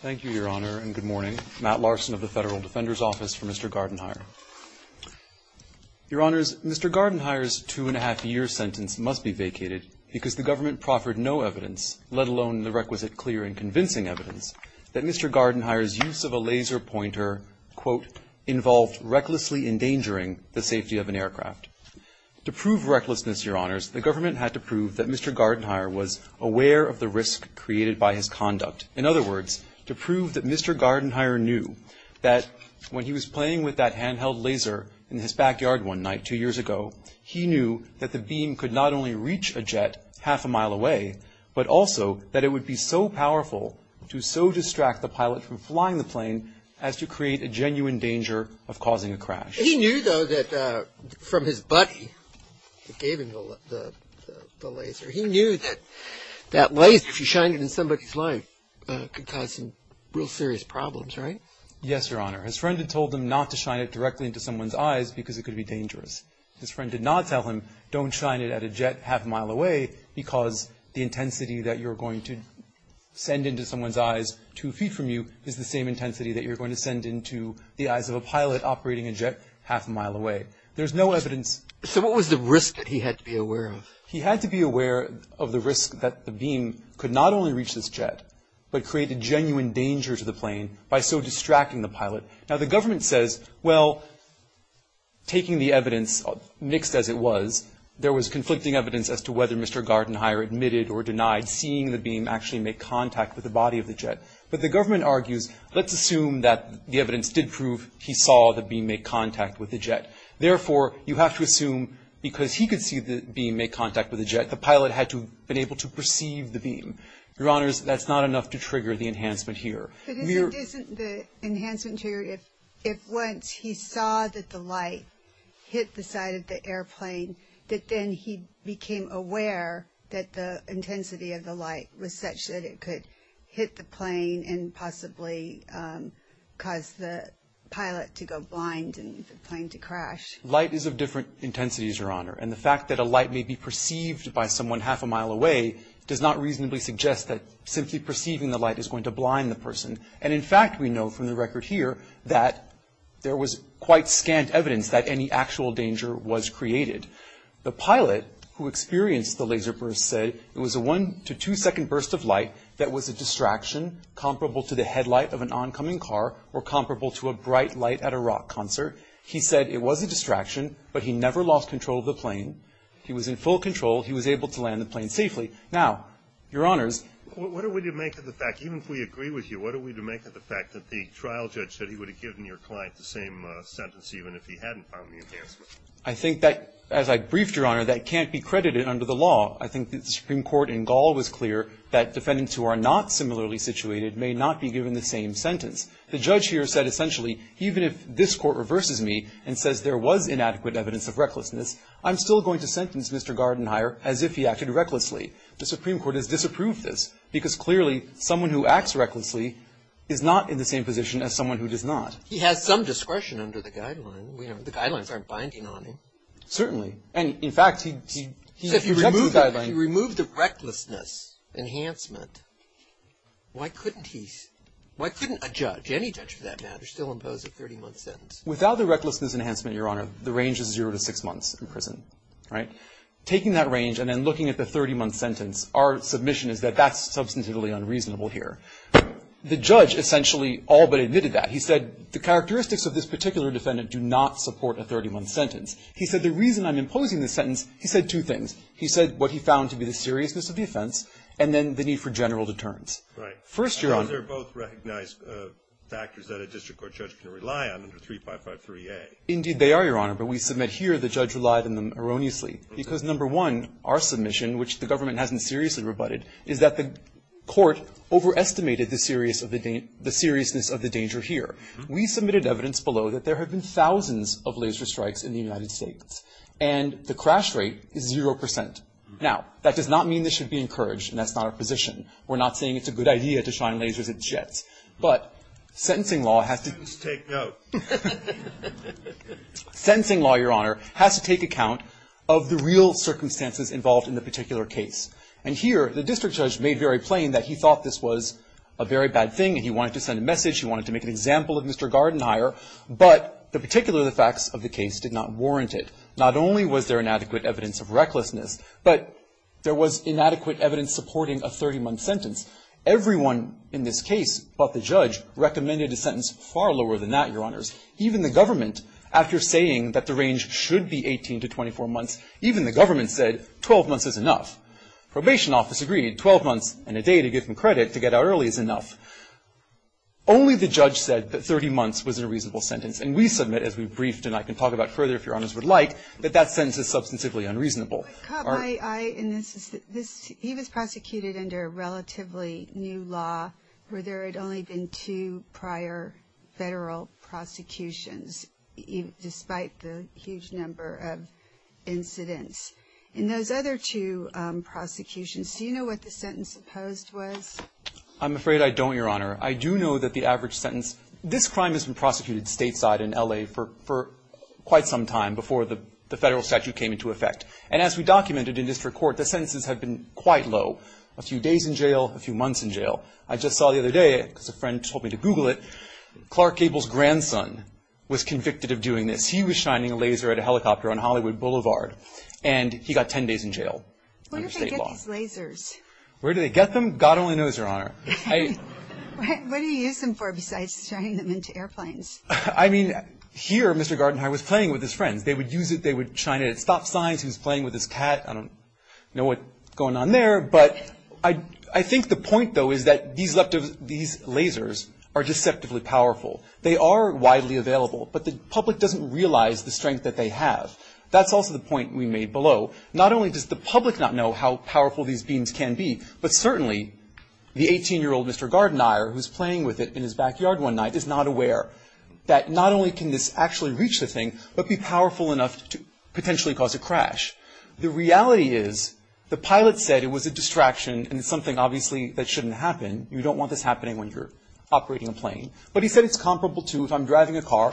Thank you, Your Honor, and good morning. Matt Larson of the Federal Defender's Office for Mr. Gardenhire. Your Honors, Mr. Gardenhire's two-and-a-half-year sentence must be vacated because the government proffered no evidence, let alone the requisite clear and convincing evidence, that Mr. Gardenhire's use of a laser pointer, quote, involved recklessly endangering the safety of an aircraft. To prove recklessness, Your Honors, the government had to prove that Mr. Gardenhire was aware of the risk created by his conduct. In other words, to prove that Mr. Gardenhire knew that when he was playing with that handheld laser in his backyard one night two years ago, he knew that the beam could not only reach a jet half a mile away, but also that it would be so powerful to so distract the pilot from flying the plane as to create a genuine danger of causing a crash. He knew, though, that from his buddy that gave him the laser, he knew that that laser, if you shine it in somebody's light, could cause some real serious problems, right? Yes, Your Honor. His friend had told him not to shine it directly into someone's eyes because it could be dangerous. His friend did not tell him, don't shine it at a jet half a mile away because the intensity that you're going to send into someone's eyes two feet from you is the same intensity that you're going to send into the eyes of a pilot operating a jet half a mile away. There's no evidence. So what was the risk that he had to be aware of? He had to be aware of the risk that the beam could not only reach this jet, but create a genuine danger to the plane by so distracting the pilot. Now, the government says, well, taking the evidence, mixed as it was, there was conflicting evidence as to whether Mr. Gardenhire admitted or denied seeing the beam actually make contact with the body of the he saw the beam make contact with the jet. Therefore, you have to assume because he could see the beam make contact with the jet, the pilot had to have been able to perceive the beam. Your Honors, that's not enough to trigger the enhancement here. But isn't the enhancement triggered if once he saw that the light hit the side of the airplane, that then he became aware that the intensity of the light was such that it could hit the plane and possibly cause the pilot to go blind and the plane to crash? Light is of different intensities, Your Honor. And the fact that a light may be perceived by someone half a mile away does not reasonably suggest that simply perceiving the light is going to blind the person. And in fact, we know from the record here that there was quite scant evidence that any actual danger was created. The pilot who experienced the laser burst said it was a one to two second burst of light that was a distraction comparable to the headlight of an oncoming car or comparable to a bright light at a rock concert. He said it was a distraction, but he never lost control of the plane. He was in full control. He was able to land the plane safely. Now, Your Honors. What are we to make of the fact, even if we agree with you, what are we to make of the fact that the trial judge said he would have given your client the same sentence even if he hadn't found the enhancement? I think that, as I briefed, Your Honor, that can't be credited under the law. I think that the Supreme Court in Gaul was clear that defendants who are not similarly situated may not be given the same sentence. The judge here said essentially, even if this Court reverses me and says there was inadequate evidence of recklessness, I'm still going to sentence Mr. Gardenhire as if he acted recklessly. The Supreme Court has disapproved this because clearly someone who acts recklessly is not in the same position as someone who does not. He has some discretion under the guideline. The guidelines aren't binding on him. Certainly. And, in fact, he rejects the guideline. If he removed the recklessness enhancement, why couldn't he, why couldn't a judge, any judge for that matter, still impose a 30-month sentence? Without the recklessness enhancement, Your Honor, the range is zero to six months in prison, right? Taking that range and then looking at the 30-month sentence, our submission is that that's substantively unreasonable here. The judge essentially all but admitted that. He said the characteristics of this particular defendant do not support a 30-month sentence. He said the reason I'm imposing this sentence, he said two things. He said what he found to be the seriousness of the offense and then the need for general deterrents. Right. First, Your Honor. They're both recognized factors that a district court judge can rely on under 3553A. Indeed, they are, Your Honor, but we submit here the judge relied on them erroneously because, number one, our submission, which the government hasn't seriously rebutted, is that the court overestimated the seriousness of the danger here. We submitted evidence below that there have been thousands of laser strikes in the United States and the crash rate is zero percent. Now, that does not mean this should be encouraged and that's not our position. We're not saying it's a good idea to shine lasers at jets, but sentencing law has to Sentence take note. Sentencing law, Your Honor, has to take account of the real circumstances involved in the particular case. And here, the district judge made very plain that he thought this was a very bad thing and he wanted to send a message, he wanted to make an example of Mr. Gardenhire, but the particular facts of the case did not warrant it. Not only was there inadequate evidence of recklessness, but there was inadequate evidence supporting a 30-month sentence. Everyone in this case but the judge recommended a sentence far lower than that, Your Honors. Even the government, after saying that the range should be 18 to 24 months, even the government said 12 months is enough. Probation office agreed, 12 months and a day to get some credit to get out early is enough. Only the judge said that 30 months was a reasonable sentence and we submit, as we briefed and I can talk about further if Your Honors would like, that that sentence is substantively unreasonable. But, Cobb, I, and this is, this, he was prosecuted under a relatively new law where there had only been two prior federal prosecutions despite the huge number of incidents. In those other two prosecutions, do you know what the sentence opposed was? I'm afraid I don't, Your Honor. I do know that the average sentence, this crime has been prosecuted stateside in L.A. for, for quite some time before the, the federal statute came into effect. And as we documented in district court, the sentences have been quite low. A few days in jail, a few months in jail. I just saw the other day, because a friend told me to Google it, Clark Gable's grandson was convicted of doing this. He was shining a laser at a helicopter on Hollywood Boulevard and he got 10 days in jail under state law. Where do they get these lasers? Where do they get them? God only knows, Your Honor. What, what do you use them for besides shining them into airplanes? I mean, here, Mr. Gartenheim was playing with his friends. They would use it, they would shine it at stop signs. He was playing with his cat. I don't know what's going on there, but I, I think the point, though, is that these, these lasers are deceptively powerful. They are widely available, but the public doesn't realize the strength that they have. That's also the point we made below. Not only does the public not know how powerful these beings can be, but certainly the 18-year-old Mr. Gartenheimer, who was playing with it in his backyard one night, is not aware that not only can this actually reach the thing, but be powerful enough to potentially cause a crash. The reality is the pilot said it was a distraction and something, obviously, that shouldn't happen. You don't want this happening when you're operating a plane. But he said it's comparable to if I'm driving a car,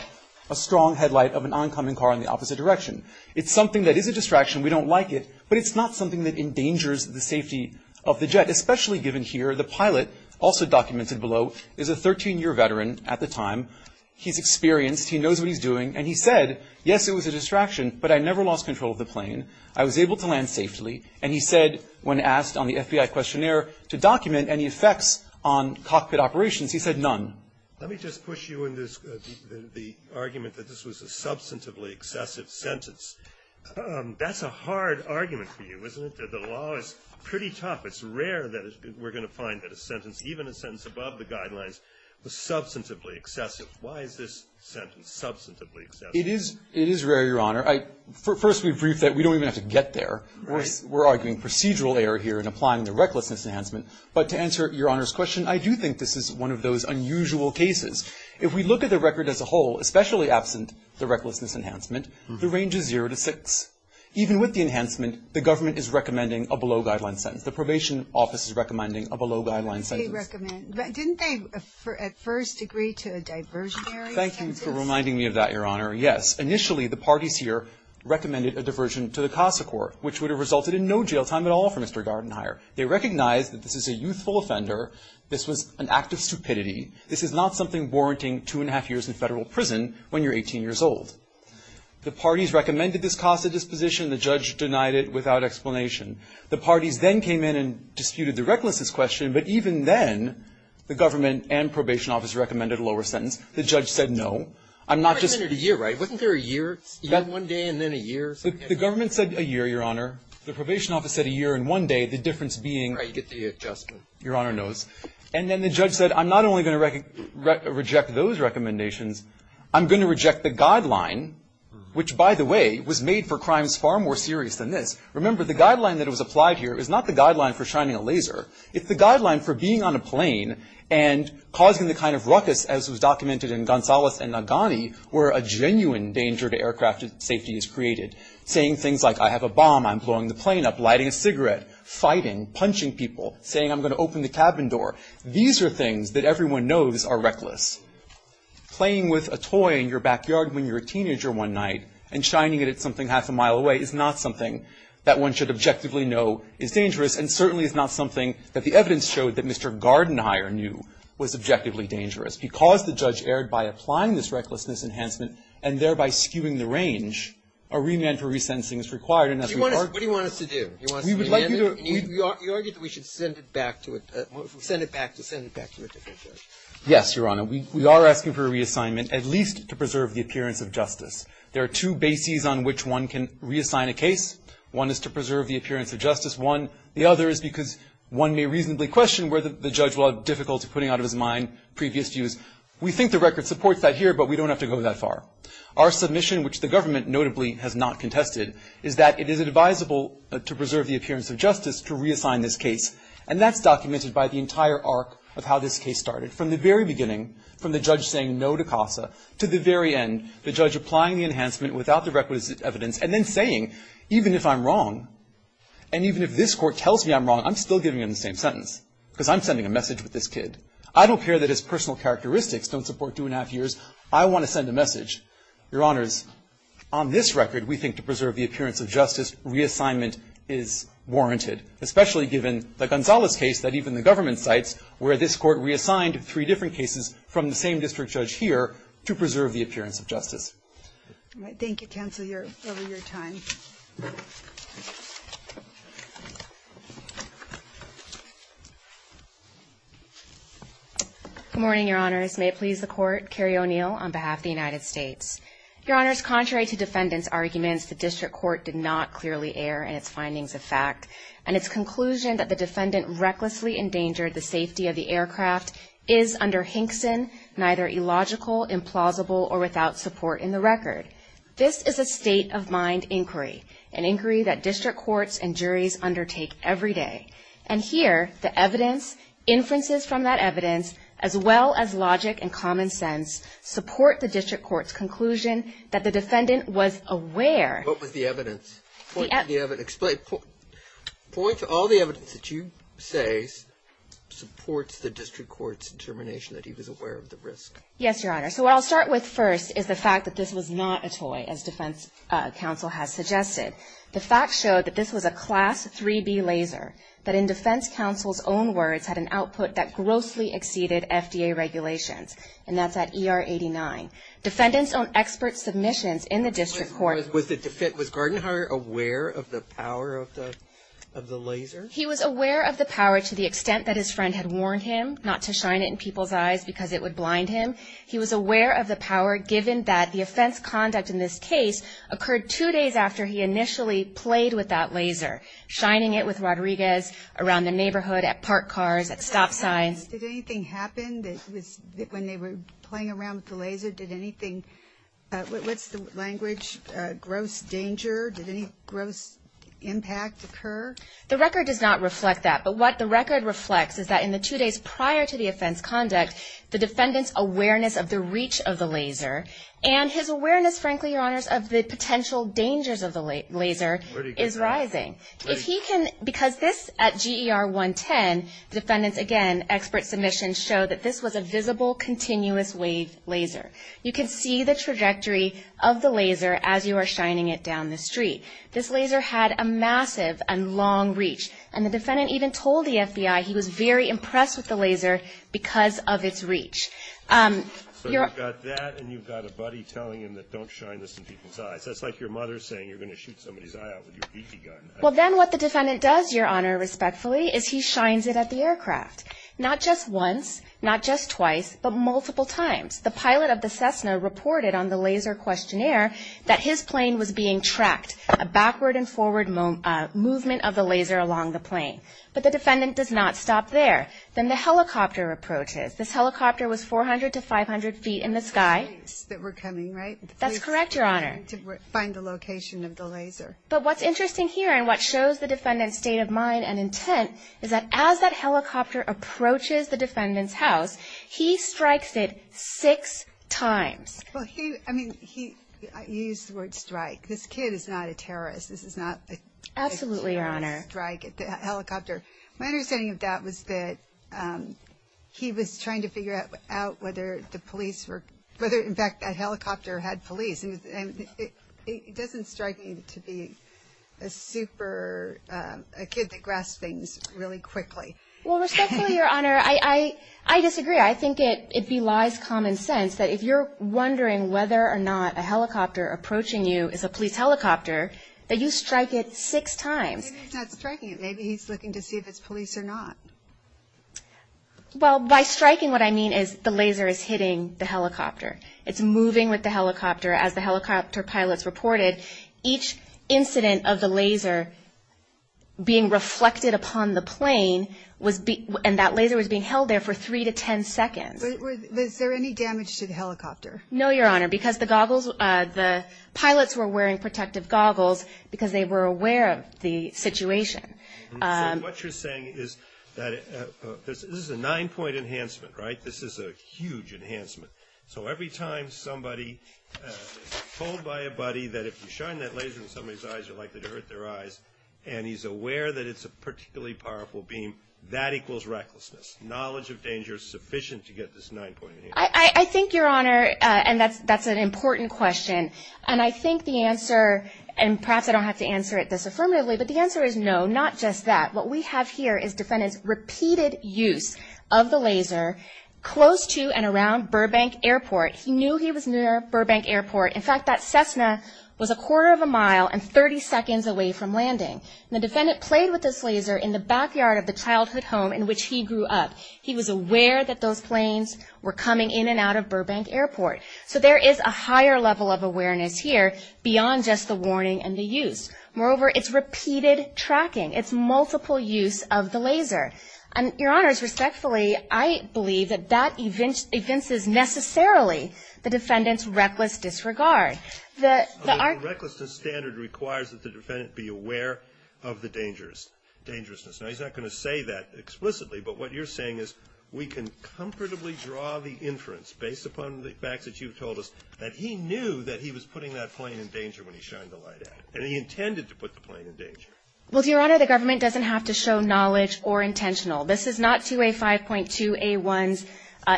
a strong headlight of an oncoming car in the opposite direction. It's something that is a distraction. We don't like it, but it's not something that endangers the safety of the jet, especially given here the pilot, also documented below, is a 13-year veteran at the time. He's experienced. He knows what he's doing. And he said, yes, it was a distraction, but I never lost control of the plane. I was able to land safely. And he said, when asked on the FBI questionnaire to document any effects on cockpit operations, he said none. Let me just push you in the argument that this was a substantively excessive sentence. That's a hard argument for you, isn't it? The law is pretty tough. It's rare that we're going to find that a sentence, even a sentence above the guidelines, was substantively excessive. Why is this sentence substantively excessive? It is rare, Your Honor. First, we've briefed that. We don't even have to get there. We're arguing procedural error here in applying the recklessness enhancement. But to answer Your Honor's question, I do think this is one of those unusual cases. If we look at the record as a whole, especially absent the recklessness enhancement, the range is zero to six. Even with the enhancement, the government is recommending a below-guideline sentence. The probation office is recommending a below-guideline sentence. They recommend. Didn't they at first agree to a diversionary sentence? Thank you for reminding me of that, Your Honor. Yes. Initially, the parties here recommended a diversion to the CASA court, which would have resulted in no jail time at all for Mr. Gardenhier. They recognized that this is a youthful offender. This was an act of stupidity. This is not something warranting two and a half years in federal prison when you're 18 years old. The parties recommended this CASA disposition. The judge denied it without explanation. The parties then came in and disputed the recklessness question. But even then, the government and probation office recommended a lower sentence. The judge said no. I'm not just going to say no. You recommended a year, right? Wasn't there a year? One day and then a year? The government said a year, Your Honor. The probation office said a year and one day. The difference being you get the adjustment. Your Honor knows. And then the judge said, I'm not only going to reject those recommendations, I'm going to reject the guideline, which, by the way, was made for crimes far more serious than this. Remember, the guideline that was applied here is not the guideline for shining a laser. It's the guideline for being on a plane and causing the kind of ruckus as was documented in Gonzales and Nagani where a genuine danger to aircraft safety is created. Saying things like, I have a bomb, I'm blowing the plane up, lighting a cigarette, fighting, punching people, saying I'm going to open the cabin door. These are things that everyone knows are reckless. Playing with a toy in your backyard when you're a teenager one night and shining it at something half a mile away is not something that one should objectively know is dangerous and certainly is not something that the evidence showed that Mr. Gardenhier knew was objectively dangerous. Because the judge erred by applying this recklessness enhancement and thereby skewing the range, a remand for resentencing is required. And as we argued to do, we would like you to do it. We argued that we should send it back to a different judge. Yes, Your Honor. We are asking for a reassignment, at least to preserve the appearance of justice. There are two bases on which one can reassign a case. One is to preserve the appearance of justice. One, the other is because one may reasonably question whether the judge will have difficulty putting out of his mind previous views. We think the record supports that here, but we don't have to go that far. Our submission, which the government notably has not contested, is that it is advisable to preserve the appearance of justice to reassign this case. And that's documented by the entire arc of how this case started. From the very beginning, from the judge saying no to CASA, to the very end, the judge applying the enhancement without the requisite evidence, and then saying, even if I'm wrong, and even if this court tells me I'm wrong, I'm still giving him the same sentence, because I'm sending a message with this kid. I don't care that his personal characteristics don't support two and a half years. I want to send a message. Your Honors, on this record, we think to preserve the appearance of justice, reassignment is warranted, especially given the Gonzalez case that even the government cites, where this court reassigned three different cases from the same district judge here to preserve the appearance of justice. All right, thank you, counsel, for your time. Good morning, Your Honors. May it please the court, Carrie O'Neill on behalf of the United States. Your Honors, contrary to defendant's arguments, the district court did not clearly err in its findings of fact. And its conclusion that the defendant recklessly endangered the safety of the aircraft is, under Hinkson, neither illogical, implausible, or without support in the record. This is a state-of-mind inquiry, an inquiry that district courts and juries undertake every day. And here, the evidence, inferences from that evidence, as well as logic and common sense, support the district court's conclusion that the defendant was aware. What was the evidence? The evidence. Explain, point to all the evidence that you say supports the district court's determination that he was aware of the risk. Yes, Your Honor. So what I'll start with first is the fact that this was not a toy, as defense counsel has suggested. The facts show that this was a class 3B laser that, in defense counsel's own words, had an output that grossly exceeded FDA regulations. And that's at ER 89. Defendants on expert submissions in the district court- Was Gartenhauer aware of the power of the laser? He was aware of the power to the extent that his friend had warned him not to shine it in people's eyes because it would blind him. He was aware of the power, given that the offense conduct in this case occurred two days after he initially played with that laser, shining it with Rodriguez around the neighborhood, at parked cars, at stop signs. Did anything happen when they were playing around with the laser? Did anything- What's the language? Gross danger? Did any gross impact occur? The record does not reflect that. But what the record reflects is that in the two days prior to the offense conduct, the defendant's awareness of the reach of the laser and his awareness, frankly, Your Honors, of the potential dangers of the laser is rising. If he can- Because this, at GER 110, the defendants, again, expert submissions show that this was a visible, continuous wave laser. You can see the trajectory of the laser as you are shining it down the street. This laser had a massive and long reach. And the defendant even told the FBI he was very impressed with the laser because of its reach. So you've got that and you've got a buddy telling him that don't shine this in people's eyes. That's like your mother saying you're going to shoot somebody's eye out with your geeky gun. Well, then what the defendant does, Your Honor, respectfully, is he shines it at the aircraft. Not just once, not just twice, but multiple times. The pilot of the Cessna reported on the laser questionnaire that his plane was being tracked, a backward and forward movement of the laser along the plane. But the defendant does not stop there. Then the helicopter approaches. This helicopter was 400 to 500 feet in the sky. The place that we're coming, right? That's correct, Your Honor. To find the location of the laser. But what's interesting here and what shows the defendant's state of mind and approaches the defendant's house, he strikes it six times. Well, he, I mean, he, I use the word strike. This kid is not a terrorist. This is not a. Absolutely, Your Honor. Strike at the helicopter. My understanding of that was that he was trying to figure out whether the police were, whether in fact that helicopter had police and it, it, it doesn't strike me to be a super a kid that grasps things really quickly. Well, respectfully, Your Honor, I, I, I disagree. I think it, it belies common sense that if you're wondering whether or not a helicopter approaching you is a police helicopter, that you strike it six times. Maybe he's not striking it. Maybe he's looking to see if it's police or not. Well, by striking, what I mean is the laser is hitting the helicopter. It's moving with the helicopter. As the helicopter pilots reported each incident of the laser being reflected upon the plane was, and that laser was being held there for three to 10 seconds. Was there any damage to the helicopter? No, Your Honor, because the goggles, the pilots were wearing protective goggles because they were aware of the situation. What you're saying is that this is a nine point enhancement, right? This is a huge enhancement. So every time somebody told by a buddy that if you shine that laser in somebody's eyes, you're likely to hurt their eyes, and he's aware that it's a particularly powerful beam, that equals recklessness. Knowledge of danger is sufficient to get this nine point enhancement. I, I, I think, Your Honor, and that's, that's an important question. And I think the answer, and perhaps I don't have to answer it this affirmatively, but the answer is no, not just that. What we have here is defendant's repeated use of the laser close to and around Burbank airport. He knew he was near Burbank airport. In fact, that Cessna was a quarter of a mile and 30 seconds away from landing. And the defendant played with this laser in the backyard of the childhood home in which he grew up. He was aware that those planes were coming in and out of Burbank airport. So there is a higher level of awareness here beyond just the warning and the use. Moreover, it's repeated tracking. It's multiple use of the laser. And, Your Honors, respectfully, I believe that that evinces necessarily the fact that there are, that there are. The recklessness standard requires that the defendant be aware of the dangerous, dangerousness. Now, he's not going to say that explicitly, but what you're saying is we can comfortably draw the inference based upon the facts that you've told us that he knew that he was putting that plane in danger when he shined the light at it. And he intended to put the plane in danger. Well, Your Honor, the government doesn't have to show knowledge or intentional. This is not 2A5.2A1's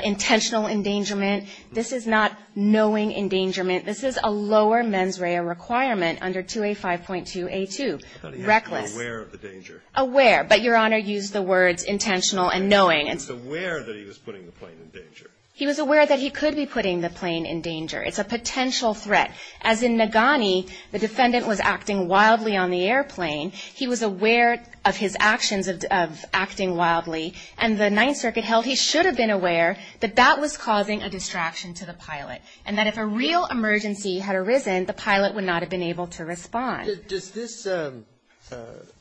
intentional endangerment. This is not knowing endangerment. This is a lower mens rea requirement under 2A5.2A2. Reckless. Aware of the danger. Aware. But, Your Honor, use the words intentional and knowing. He was aware that he was putting the plane in danger. He was aware that he could be putting the plane in danger. It's a potential threat. As in Nagani, the defendant was acting wildly on the airplane. He was aware of his actions of acting wildly. And the Ninth Circuit held he should have been aware that that was causing a distraction to the pilot. And that if a real emergency had arisen, the pilot would not have been able to respond. Does this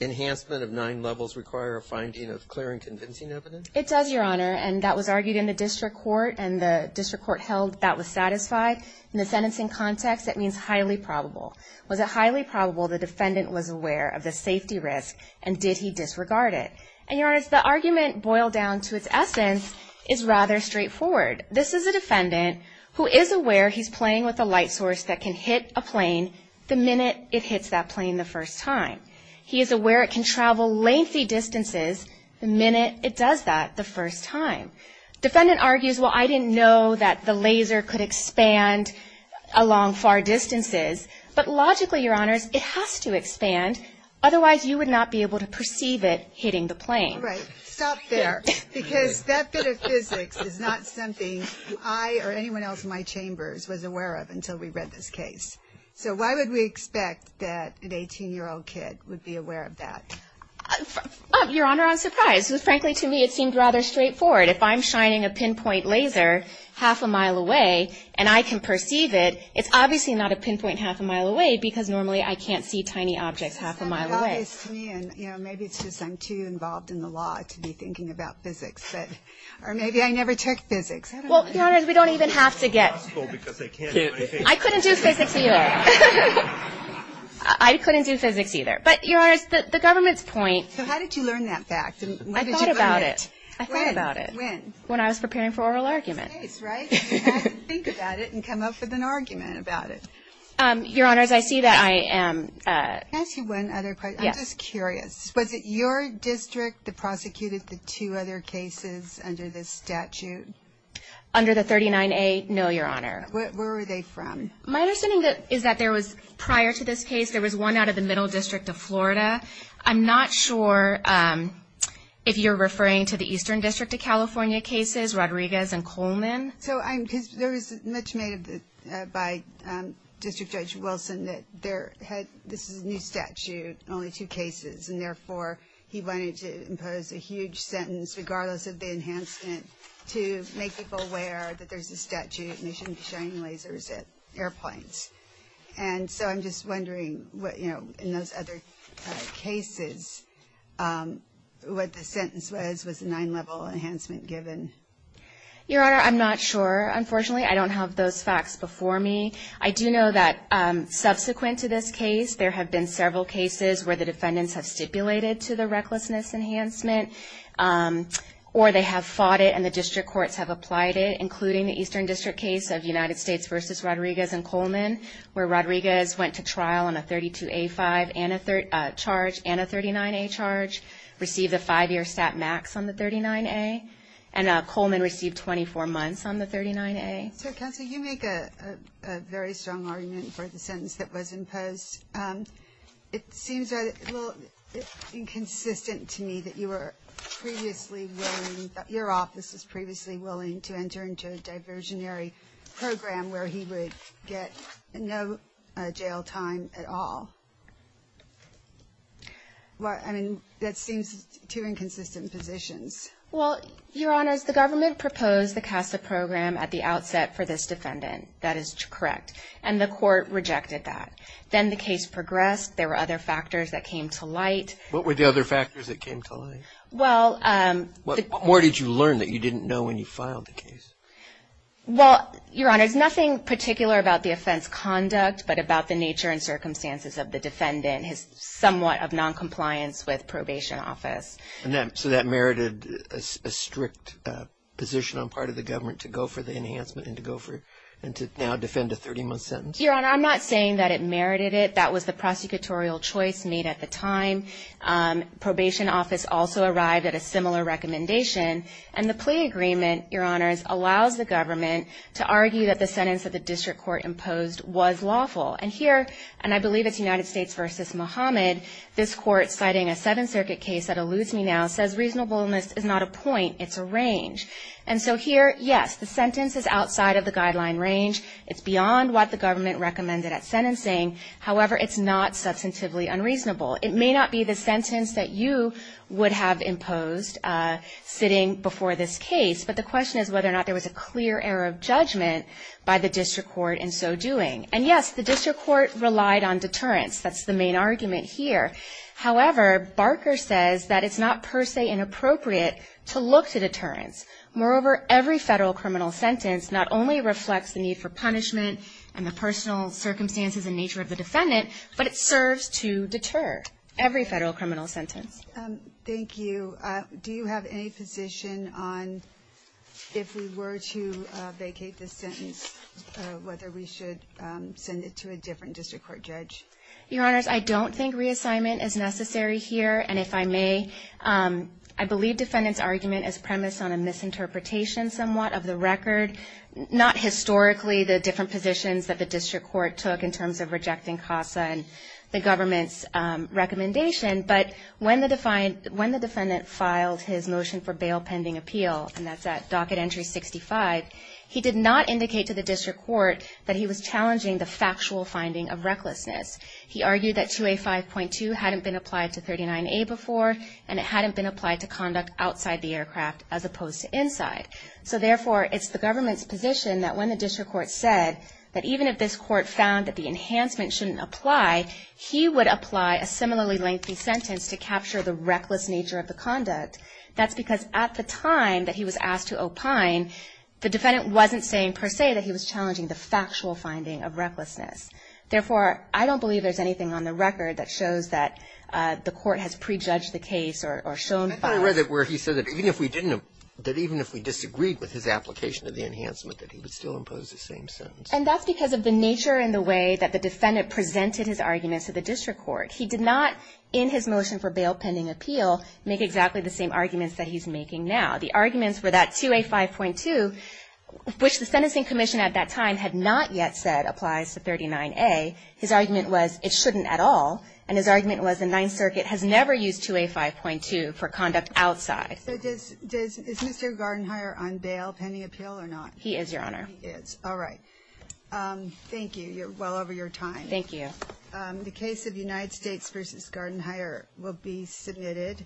enhancement of nine levels require a finding of clear and convincing evidence? It does, Your Honor. And that was argued in the district court and the district court held that was satisfied. In the sentencing context, that means highly probable. Was it highly probable the defendant was aware of the safety risk and did he disregard it? And, Your Honor, the argument boiled down to its essence is rather straightforward. This is a defendant who is aware he's playing with a light source that can hit a plane the minute it hits that plane the first time. He is aware it can travel lengthy distances the minute it does that the first time. Defendant argues, well, I didn't know that the laser could expand along far distances. But logically, Your Honors, it has to expand. Otherwise you would not be able to perceive it hitting the plane. Stop there, because that bit of physics is not something I or anyone else in my chambers was aware of until we read this case. So why would we expect that an 18-year-old kid would be aware of that? Your Honor, I'm surprised. Frankly, to me, it seemed rather straightforward. If I'm shining a pinpoint laser half a mile away and I can perceive it, it's obviously not a pinpoint half a mile away because normally I can't see tiny objects half a mile away. And, you know, maybe it's just I'm too involved in the law to be thinking about physics. Or maybe I never took physics. Well, Your Honors, we don't even have to get. I couldn't do physics either. I couldn't do physics either. But, Your Honors, the government's point. So how did you learn that fact? I thought about it. I thought about it when I was preparing for oral argument. Think about it and come up with an argument about it. Your Honors, I see that I am. Can I ask you one other question? Yes. I'm just curious. Was it your district that prosecuted the two other cases under this statute? Under the 39A? No, Your Honor. Where were they from? My understanding is that there was, prior to this case, there was one out of the Middle District of Florida. I'm not sure if you're referring to the Eastern District of California cases, Rodriguez and Coleman. So there was much made by District Judge Wilson that this is a new statute, only two cases, and therefore he wanted to impose a huge sentence, regardless of the enhancement, to make people aware that there's a statute and they shouldn't be showing lasers at airplanes. And so I'm just wondering what, you know, in those other cases, what the sentence was, was the nine-level enhancement given? Your Honor, I'm not sure. Unfortunately, I don't have those facts before me. I do know that subsequent to this case, there have been several cases where the defendants have stipulated to the recklessness enhancement, or they have fought it and the district courts have applied it, including the Eastern District case of United States v. Rodriguez and Coleman, where Rodriguez went to trial on a 32A5 and a 39A charge, received a five-year stat max on the 39A, and Coleman received 24 months on the 39A. So Counsel, you make a very strong argument for the sentence that was imposed. It seems a little inconsistent to me that you were previously willing, that your office was previously willing to enter into a diversionary program where he would get no jail time at all. Well, I mean, that seems two inconsistent positions. Well, Your Honor, the government proposed the CASA program at the outset for this defendant. That is correct. And the court rejected that. Then the case progressed. There were other factors that came to light. What were the other factors that came to light? Well, um. What more did you learn that you didn't know when you filed the case? Well, Your Honor, it's nothing particular about the offense conduct, but about the nature and circumstances of the defendant, his somewhat of noncompliance with probation office. And so that merited a strict position on part of the government to go for the enhancement and to go for and to now defend a 30-month sentence? Your Honor, I'm not saying that it merited it. That was the prosecutorial choice made at the time. Probation office also arrived at a similar recommendation. And the plea agreement, Your Honors, allows the government to argue that the sentence that the district court imposed was lawful. And here, and I believe it's United States versus Mohammed, this court citing a Seventh Circuit case that eludes me now says reasonableness is not a point, it's a range. And so here, yes, the sentence is outside of the guideline range. It's beyond what the government recommended at sentencing. However, it's not substantively unreasonable. It may not be the sentence that you would have imposed sitting before this case. But the question is whether or not there was a clear error of judgment by the district court in so doing. And yes, the district court relied on deterrence. That's the main argument here. However, Barker says that it's not per se inappropriate to look to deterrence. Moreover, every federal criminal sentence not only reflects the need for punishment and the personal circumstances and nature of the defendant, but it serves to deter every federal criminal sentence. Thank you. Do you have any position on if we were to vacate this sentence, whether we should send it to a different district court judge? Your Honors, I don't think reassignment is necessary here. And if I may, I believe defendant's argument is premised on a misinterpretation somewhat of the record, not historically the different positions that the district court took in terms of rejecting CASA and the government's recommendation. But when the defendant filed his motion for bail pending appeal, and that's at docket entry 65, he did not indicate to the district court that he was challenging the factual finding of recklessness. He argued that 2A 5.2 hadn't been applied to 39A before, and it hadn't been applied to conduct outside the aircraft as opposed to inside. So therefore, it's the government's position that when the district court said that even if this court found that the enhancement shouldn't apply, he would apply a similarly lengthy sentence to capture the reckless nature of the conduct. That's because at the time that he was asked to opine, the defendant wasn't saying per se that he was challenging the factual finding of recklessness. Therefore, I don't believe there's anything on the record that shows that the court has prejudged the case or shown false. I thought I read it where he said that even if we didn't, that even if we disagreed with his application of the enhancement, that he would still impose the same sentence. And that's because of the nature and the way that the defendant presented his argument to the district court. He did not, in his motion for bail pending appeal, make exactly the same arguments that he's making now. The arguments were that 2A 5.2, which the sentencing commission at that time had not yet said applies to 39A. His argument was it shouldn't at all. And his argument was the Ninth Circuit has never used 2A 5.2 for conduct outside. So does Mr. Gardenhire on bail pending appeal or not? He is, Your Honor. He is. All right. Thank you. You're well over your time. Thank you. The case of United States versus Gardenhire will be submitted.